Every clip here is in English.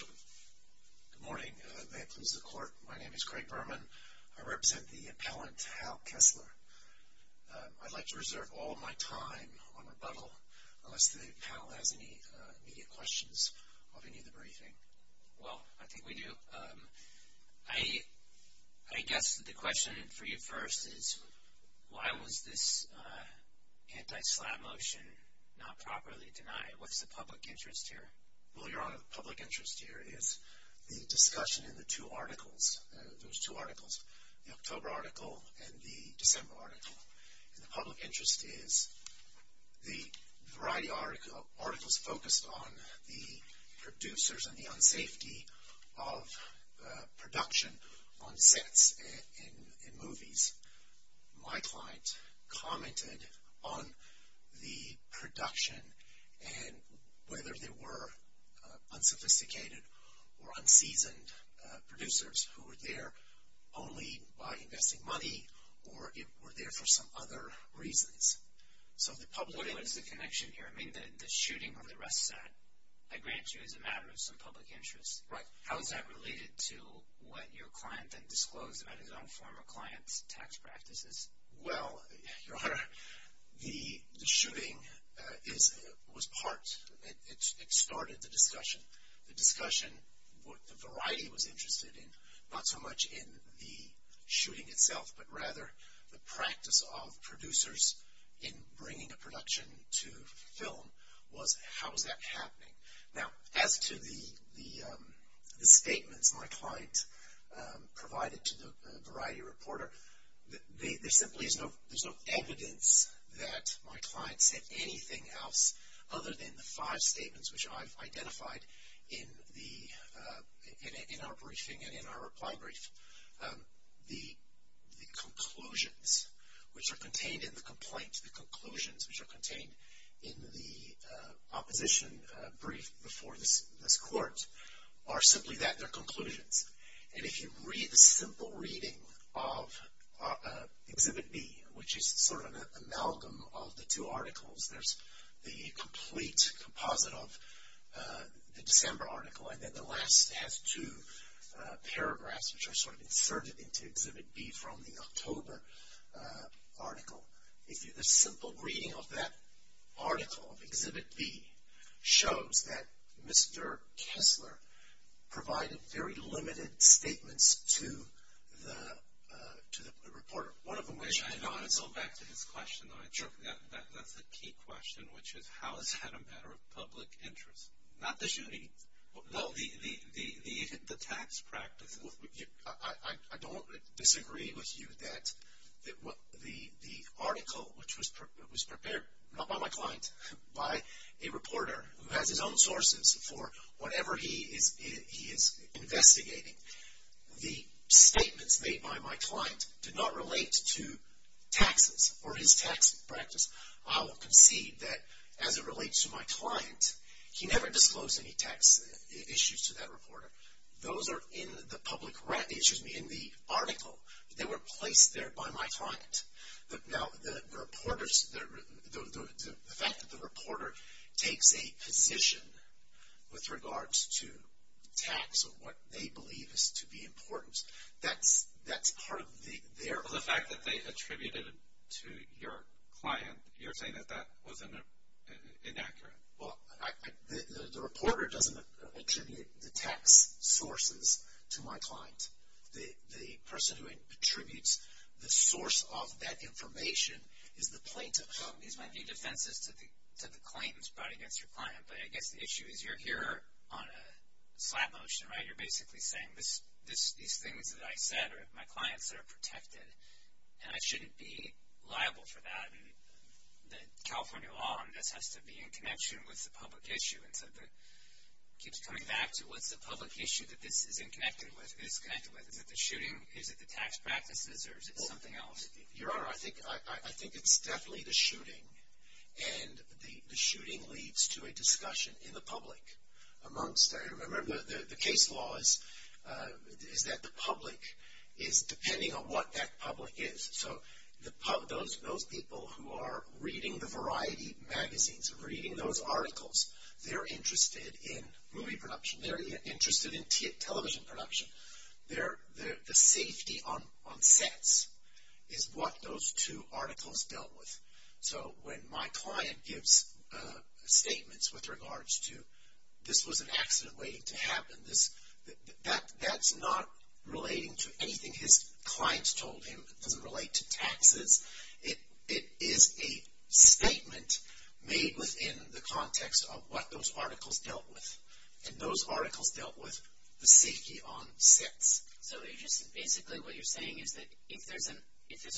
Good morning. May it please the Court, my name is Craig Berman. I represent the appellant Hal Kessler. I'd like to reserve all my time on rebuttal unless the panel has any immediate questions of any of the briefing. Well, I think we do. I guess the question for you first is why was this anti-slap motion not properly denied? What's the public interest here? Well, Your Honor, the public interest here is the discussion in the two articles, those two articles, the October article and the December article. And the public interest is the variety of articles focused on the producers and the unsafety of production on sets in movies. My client commented on the production and whether there were unsophisticated or unseasoned producers who were there only by investing money or were there for some other reasons. What is the connection here? I mean, the shooting of the Russ Satt, I grant you, is a matter of some public interest. Right. How is that related to what your client then disclosed about his own former client's tax practices? Well, Your Honor, the shooting was part, it started the discussion. The discussion, what the variety was interested in, not so much in the shooting itself, but rather the practice of producers in bringing a production to film was how was that happening. Now, as to the statements my client provided to the variety reporter, there simply is no evidence that my client said anything else other than the five statements which I've identified in our briefing and in our reply brief. The conclusions which are contained in the complaint, the conclusions which are contained in the opposition brief before this court are simply that, they're conclusions. And if you read the simple reading of Exhibit B, which is sort of an amalgam of the two articles, there's the complete composite of the December article and then the last has two paragraphs which are sort of inserted into Exhibit B from the October article. The simple reading of that article of Exhibit B shows that Mr. Kessler provided very limited statements to the reporter. One of them which I thought, and so back to his question that I took, that's a key question, which is how is that a matter of public interest? Not the shooting. No, the tax practice. I don't disagree with you that the article which was prepared, not by my client, by a reporter who has his own sources for whatever he is investigating, the statements made by my client do not relate to taxes or his tax practice. I will concede that as it relates to my client, he never disclosed any tax issues to that reporter. Those are in the article that were placed there by my client. Now, the fact that the reporter takes a position with regards to tax or what they believe is to be important, that's part of their... Well, the fact that they attributed it to your client, you're saying that that was inaccurate. Well, the reporter doesn't attribute the tax sources to my client. The person who attributes the source of that information is the plaintiff. These might be defenses to the claims brought against your client, but I guess the issue is you're here on a slap motion, right? You're basically saying these things that I said are my clients that are protected, and I shouldn't be liable for that. The California law on this has to be in connection with the public issue. It keeps coming back to what's the public issue that this is connected with. Is it the shooting? Is it the tax practices? Or is it something else? Your Honor, I think it's definitely the shooting, and the shooting leads to a discussion in the public amongst them. Remember, the case law is that the public is depending on what that public is. So those people who are reading the variety magazines, reading those articles, they're interested in movie production. They're interested in television production. The safety on sets is what those two articles dealt with. So when my client gives statements with regards to this was an accident waiting to happen, that's not relating to anything his clients told him. It doesn't relate to taxes. It is a statement made within the context of what those articles dealt with, and those articles dealt with the safety on sets. So basically what you're saying is that if there's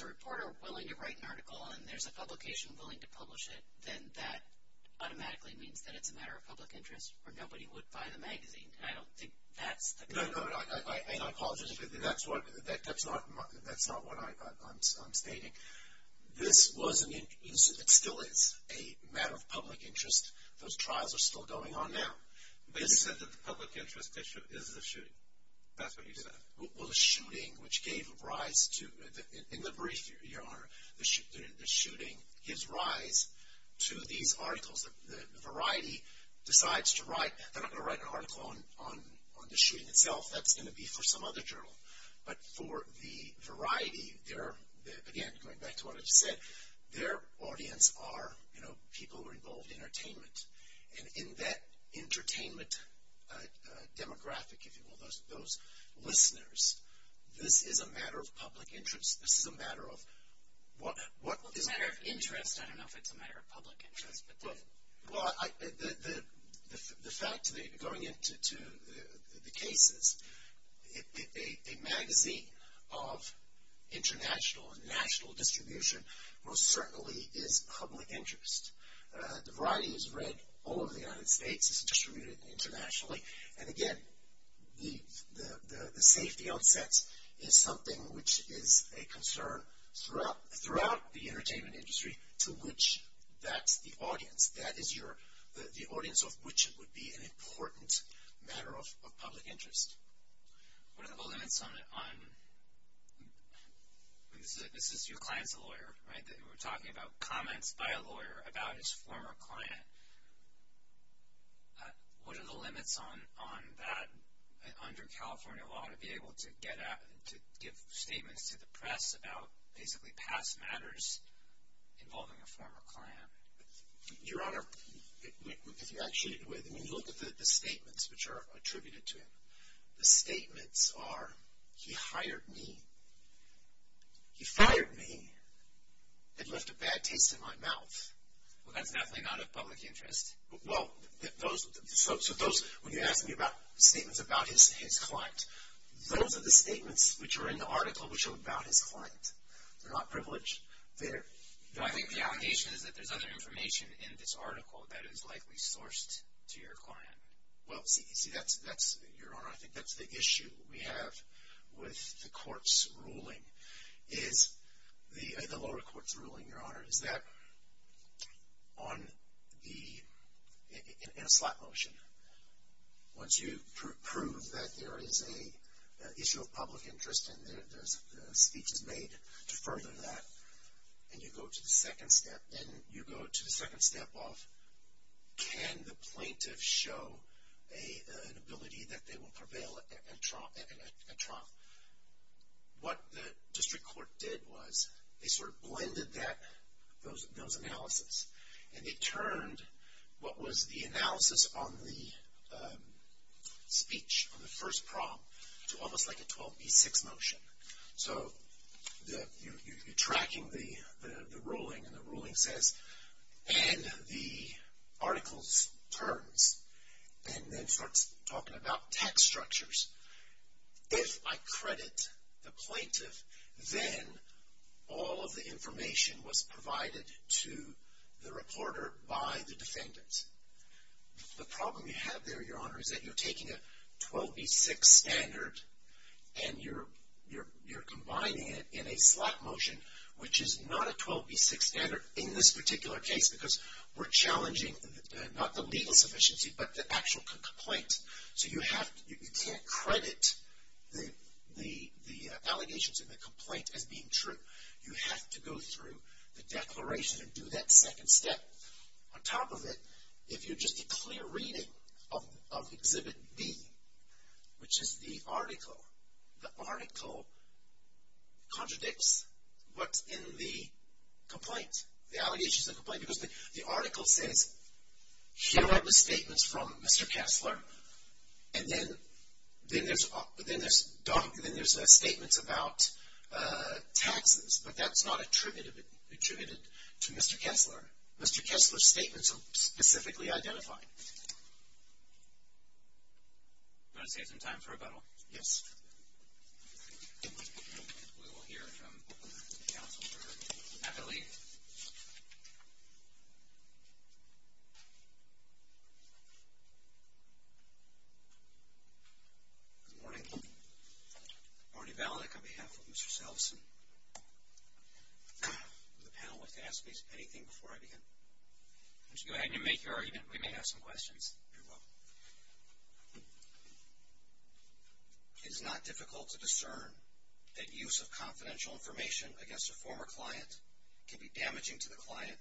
a reporter willing to write an article and there's a publication willing to publish it, then that automatically means that it's a matter of public interest or nobody would buy the magazine, and I don't think that's the case. No, no, and I apologize. That's not what I'm stating. This was an incident. It still is a matter of public interest. Those trials are still going on now. But you said that the public interest issue is the shooting. That's what you said. Well, the shooting, which gave rise to, in the brief, Your Honor, the shooting gives rise to these articles. The Variety decides to write. They're not going to write an article on the shooting itself. That's going to be for some other journal. But for the Variety, again, going back to what I just said, their audience are, you know, people who are involved in entertainment. And in that entertainment demographic, if you will, those listeners, this is a matter of public interest. This is a matter of what is a matter of interest. I don't know if it's a matter of public interest. Well, the fact going into the cases, a magazine of international and national distribution most certainly is public interest. The Variety is read all over the United States. It's distributed internationally. And, again, the safety on sets is something which is a concern throughout the entertainment industry to which that's the audience. That is the audience of which would be an important matter of public interest. What are the limits on, this is your client's lawyer, right? We're talking about comments by a lawyer about his former client. What are the limits on that under California law to be able to get at, about basically past matters involving a former client? Your Honor, if you actually look at the statements which are attributed to him, the statements are, he hired me. He fired me. It left a bad taste in my mouth. Well, that's definitely not of public interest. Well, so those, when you ask me about statements about his client, those are the statements which are in the article which are about his client. They're not privileged. I think the allegation is that there's other information in this article that is likely sourced to your client. Well, see, that's, Your Honor, I think that's the issue we have with the court's ruling, the lower court's ruling, Your Honor, is that on the, in a slap motion, once you prove that there is an issue of public interest and the speech is made to further that, and you go to the second step, then you go to the second step of can the plaintiff show an ability that they will prevail in a trial? What the district court did was they sort of blended that, those analysis, and it turned what was the analysis on the speech, on the first prong, to almost like a 12B6 motion. So you're tracking the ruling, and the ruling says, and the article turns and then starts talking about text structures. If I credit the plaintiff, then all of the information was provided to the reporter by the defendant. The problem you have there, Your Honor, is that you're taking a 12B6 standard and you're combining it in a slap motion, which is not a 12B6 standard in this particular case because we're challenging not the legal sufficiency but the actual complaint. So you can't credit the allegations in the complaint as being true. You have to go through the declaration and do that second step. On top of it, if you're just a clear reading of Exhibit B, which is the article, the article contradicts what's in the complaint, the allegations in the complaint, because the article says, here are the statements from Mr. Kessler, and then there's documents, and then there's statements about taxes, but that's not attributed to Mr. Kessler. Mr. Kessler's statements are specifically identified. Want to save some time for rebuttal? Yes. We will hear from Counselor Eberle. Good morning. Marty Valenik on behalf of Mr. Salveson. Would the panel like to ask me anything before I begin? Why don't you go ahead and make your argument. We may have some questions. You're welcome. It is not difficult to discern that use of confidential information against a former client can be damaging to the client,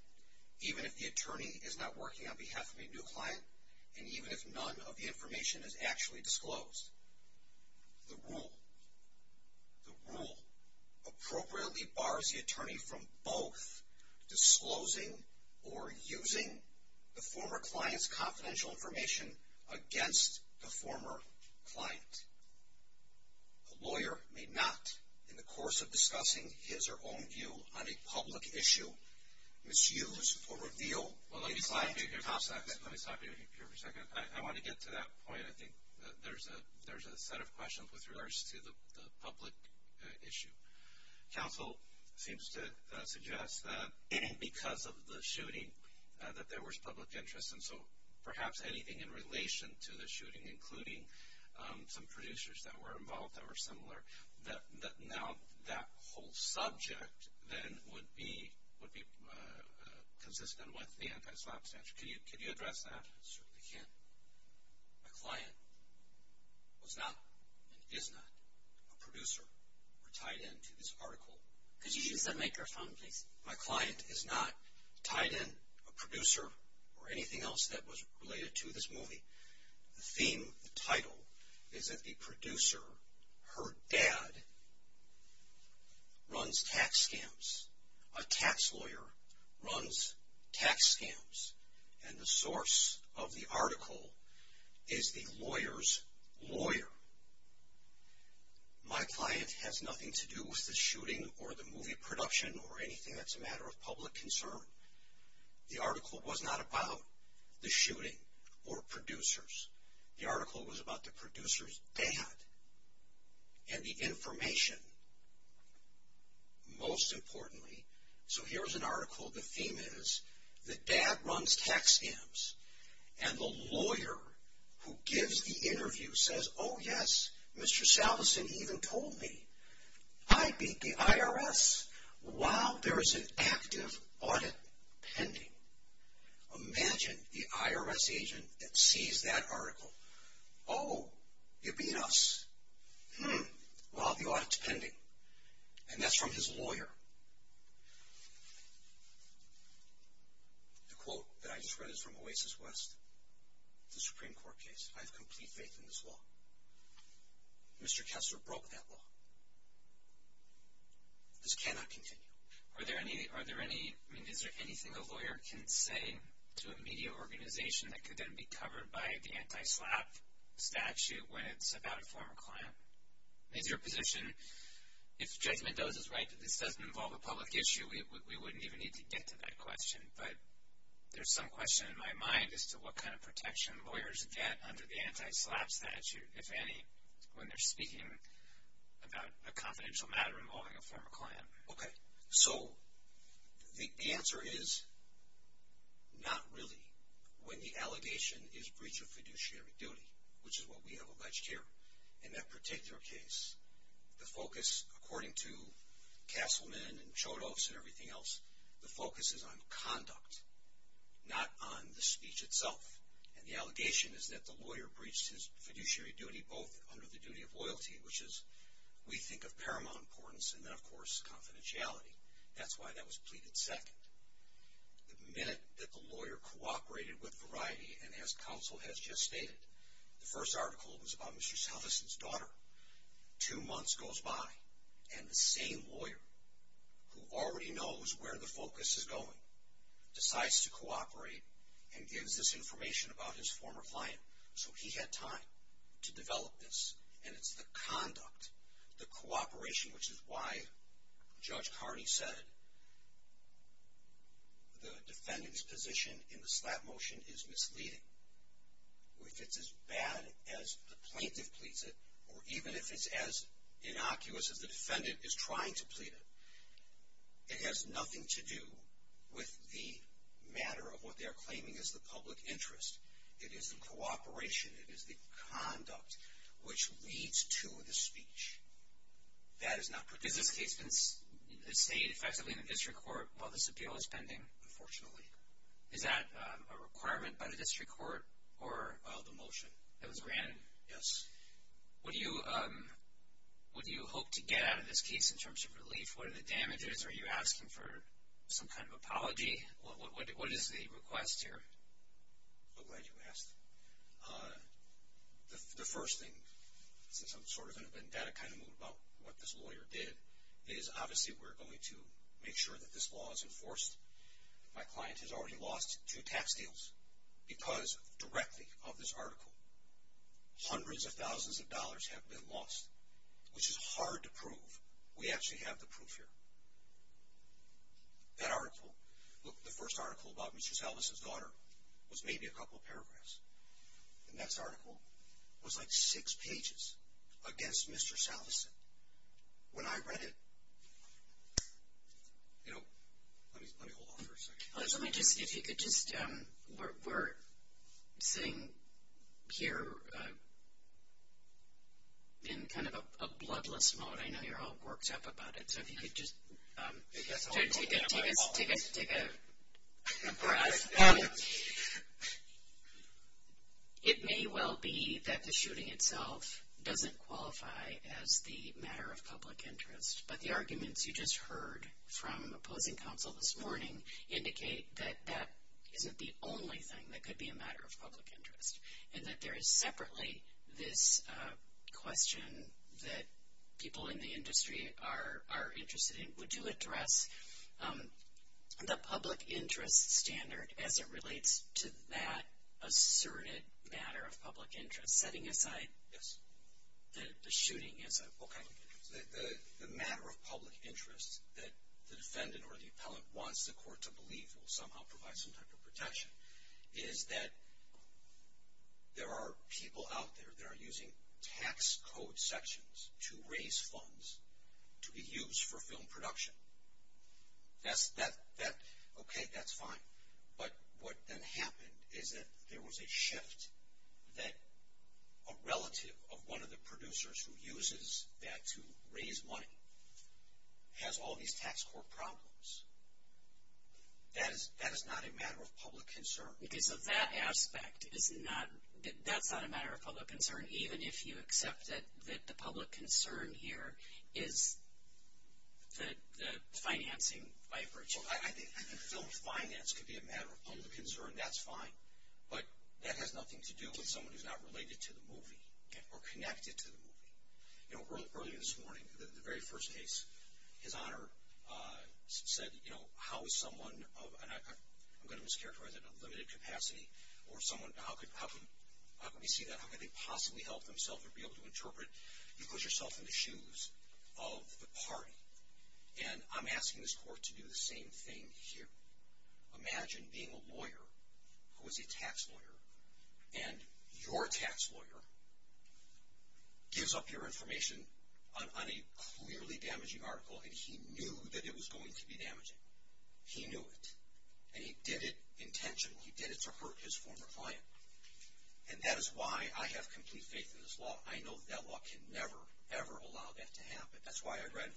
even if the attorney is not working on behalf of a new client, and even if none of the information is actually disclosed. The rule appropriately bars the attorney from both disclosing or using the former client's confidential information against the former client. A lawyer may not, in the course of discussing his or own view on a public issue, misuse or reveal a client's contact information. Let me stop you here for a second. I want to get to that point. I think there's a set of questions with regards to the public issue. Counsel seems to suggest that because of the shooting that there was public interest, and so perhaps anything in relation to the shooting, including some producers that were involved that were similar, that now that whole subject then would be consistent with the anti-slap statute. Could you address that? I certainly can. My client was not and is not a producer or tied into this article. Could you use the microphone, please? My client is not tied in a producer or anything else that was related to this movie. The theme, the title, is that the producer, her dad, runs tax scams. A tax lawyer runs tax scams. And the source of the article is the lawyer's lawyer. My client has nothing to do with the shooting or the movie production or anything that's a matter of public concern. The article was not about the shooting or producers. The article was about the producer's dad and the information, most importantly. So here's an article. The theme is that dad runs tax scams, and the lawyer who gives the interview says, oh, yes, Mr. Salveson even told me. I beat the IRS while there is an active audit pending. Imagine the IRS agent that sees that article. And that's from his lawyer. The quote that I just read is from Oasis West, the Supreme Court case. I have complete faith in this law. Mr. Kessler broke that law. This cannot continue. Are there any, I mean, is there anything a lawyer can say to a media organization that could then be covered by the anti-SLAPP statute when it's about a former client? Is your position, if Judge Mendoza's right that this doesn't involve a public issue, we wouldn't even need to get to that question. But there's some question in my mind as to what kind of protection lawyers get under the anti-SLAPP statute, if any, when they're speaking about a confidential matter involving a former client. Okay. So the answer is not really when the allegation is breach of fiduciary duty, which is what we have alleged here. In that particular case, the focus, according to Kasselman and Chodos and everything else, the focus is on conduct, not on the speech itself. And the allegation is that the lawyer breached his fiduciary duty both under the duty of loyalty, which is we think of paramount importance, and then, of course, confidentiality. That's why that was pleaded second. The minute that the lawyer cooperated with Variety, and as counsel has just stated, the first article was about Mr. Salveson's daughter. Two months goes by, and the same lawyer, who already knows where the focus is going, decides to cooperate and gives this information about his former client. So he had time to develop this, and it's the conduct, the cooperation, which is why Judge Carney said the defendant's position in the SLAPP motion is misleading. If it's as bad as the plaintiff pleads it, or even if it's as innocuous as the defendant is trying to plead it, it has nothing to do with the matter of what they're claiming is the public interest. It is the cooperation, it is the conduct, which leads to the speech. That is not pertinent. Does this case state effectively in the district court, while this appeal is pending? Unfortunately. Is that a requirement by the district court? The motion. That was granted? Yes. What do you hope to get out of this case in terms of relief? What are the damages? Are you asking for some kind of apology? What is the request here? I'm glad you asked. The first thing, since I'm sort of in a vendetta kind of mood about what this lawyer did, is obviously we're going to make sure that this law is enforced. My client has already lost two tax deals because directly of this article. Hundreds of thousands of dollars have been lost, which is hard to prove. We actually have the proof here. That article, the first article about Mr. Salveson's daughter was maybe a couple of paragraphs. The next article was like six pages against Mr. Salveson. When I read it, you know, let me hold on for a second. If you could just, we're sitting here in kind of a bloodless mode. I know you're all worked up about it. So if you could just take a pause. It may well be that the shooting itself doesn't qualify as the matter of public interest, but the arguments you just heard from opposing counsel this morning indicate that that isn't the only thing that could be a matter of public interest, and that there is separately this question that people in the industry are interested in. Would you address the public interest standard as it relates to that asserted matter of public interest, setting aside the shooting as a public interest? The matter of public interest that the defendant or the appellant wants the court to believe will somehow provide some type of protection is that there are people out there that are using tax code sections to raise funds to be used for film production. Okay, that's fine. But what then happened is that there was a shift that a relative of one of the producers who uses that to raise money has all these tax code problems. That is not a matter of public concern. Because of that aspect, that's not a matter of public concern, even if you accept that the public concern here is the financing by a producer. I think film finance could be a matter of public concern. That's fine. But that has nothing to do with someone who's not related to the movie or connected to the movie. You know, earlier this morning, the very first case, his Honor said, you know, how is someone of, and I'm going to mischaracterize that, a limited capacity or someone, how can we see that? How can they possibly help themselves or be able to interpret? You put yourself in the shoes of the party. And I'm asking this court to do the same thing here. Imagine being a lawyer who is a tax lawyer, and your tax lawyer gives up your information on a clearly damaging article, and he knew that it was going to be damaging. He knew it. And he did it intentionally. He did it to hurt his former client. And that is why I have complete faith in this law. I know that law can never, ever allow that to happen. That's why I read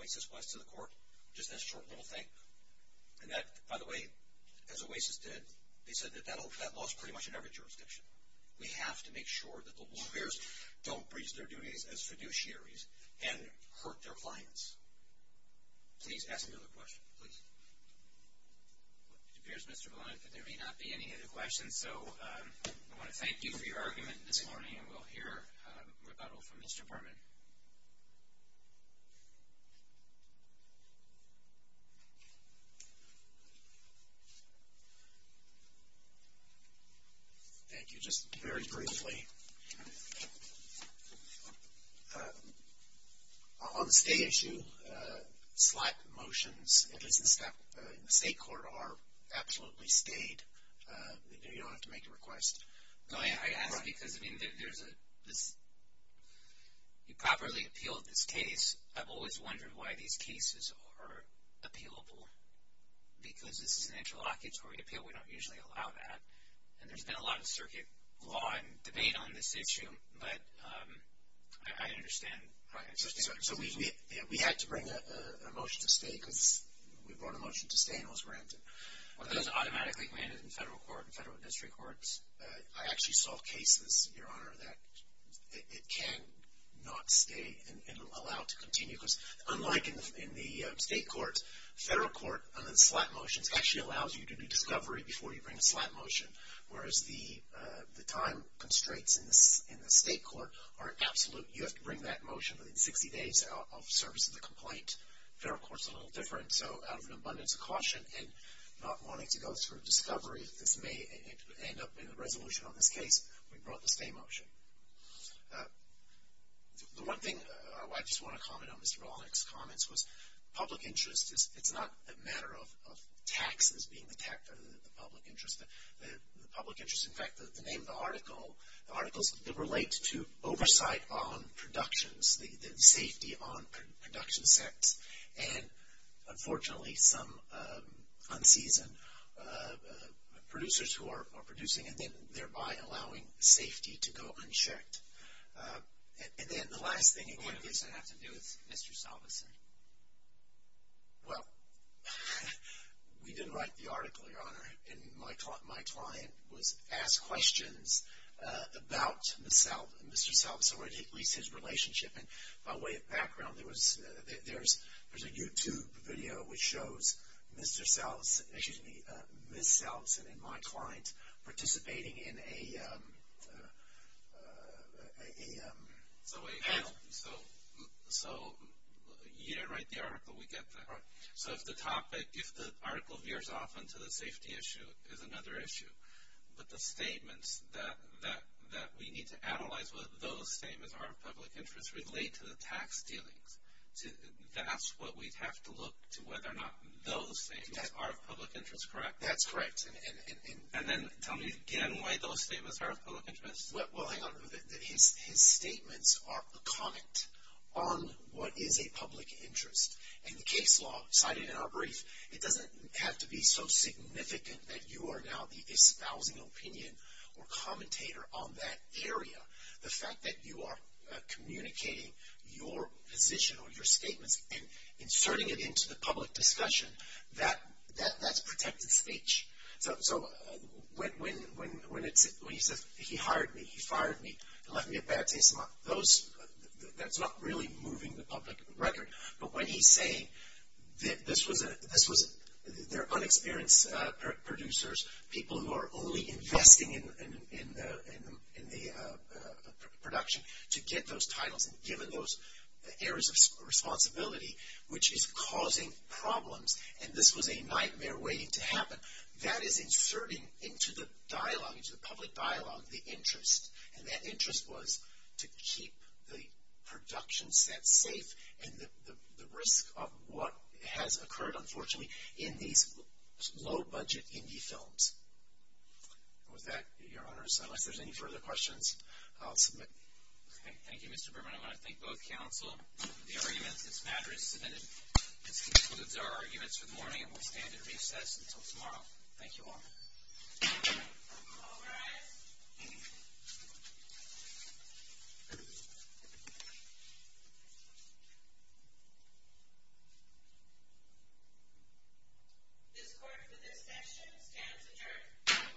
Oasis West to the court, just that short little thing. And that, by the way, as Oasis did, they said that that law is pretty much in every jurisdiction. We have to make sure that the lawyers don't breach their duties as fiduciaries and hurt their clients. Please ask another question. Please. It appears, Mr. Blumenthal, that there may not be any other questions. And so I want to thank you for your argument this morning. And we'll hear rebuttal from Mr. Berman. Thank you. Just very briefly, on the stay issue, slight motions, at least in the state court, are absolutely stayed. You don't have to make a request. I ask because, I mean, you properly appealed this case. I've always wondered why these cases are appealable. Because this is an interlocutory appeal. We don't usually allow that. And there's been a lot of circuit law and debate on this issue. But I understand. So we had to bring a motion to stay because we brought a motion to stay and it was granted. Well, it doesn't automatically grant it in federal court and federal district courts. I actually saw cases, Your Honor, that it cannot stay and allow it to continue. Because unlike in the state courts, federal court, on the slight motions, actually allows you to do discovery before you bring a slight motion. Whereas the time constraints in the state court are absolute. You have to bring that motion within 60 days of the service of the complaint. Federal court is a little different. So out of an abundance of caution and not wanting to go through discovery, this may end up in a resolution on this case. We brought the stay motion. The one thing I just want to comment on Mr. Wallenberg's comments was public interest. It's not a matter of taxes being the public interest. The public interest, in fact, the name of the article, the article relates to oversight on productions, the safety on production sets. And, unfortunately, some unseasoned producers who are producing and then thereby allowing safety to go unchecked. And then the last thing you can do. What does that have to do with Mr. Salveson? Well, we didn't write the article, Your Honor, and my client was asked questions about Mr. Salveson or at least his relationship. And by way of background, there's a YouTube video which shows Mr. Salveson, excuse me, Ms. Salveson and my client participating in a... So you didn't write the article. We get that. So if the topic, if the article veers off into the safety issue, it's another issue. But the statements that we need to analyze whether those statements are of public interest relate to the tax dealings. That's what we'd have to look to whether or not those statements are of public interest, correct? That's correct. And then tell me again why those statements are of public interest. Well, hang on a minute. His statements are a comment on what is a public interest. And the case law cited in our brief, it doesn't have to be so significant that you are now the espousing opinion or commentator on that area. The fact that you are communicating your position or your statements and inserting it into the public discussion, that's protected speech. So when he says, he hired me, he fired me, he left me a bad taste in my mouth, that's not really moving the public record. But when he's saying that this was, they're unexperienced producers, people who are only investing in the production to get those titles and given those areas of responsibility, which is causing problems, and this was a nightmare waiting to happen, that is inserting into the dialogue, into the public dialogue, the interest. And that interest was to keep the production set safe and the risk of what has occurred, unfortunately, in these low-budget indie films. And with that, Your Honors, unless there's any further questions, I'll submit. Okay. Thank you, Mr. Berman. I want to thank both counsel for the arguments. This matter is submitted. This concludes our arguments for the morning and we'll stand at recess until tomorrow. Thank you all. All rise. This court for this session stands adjourned.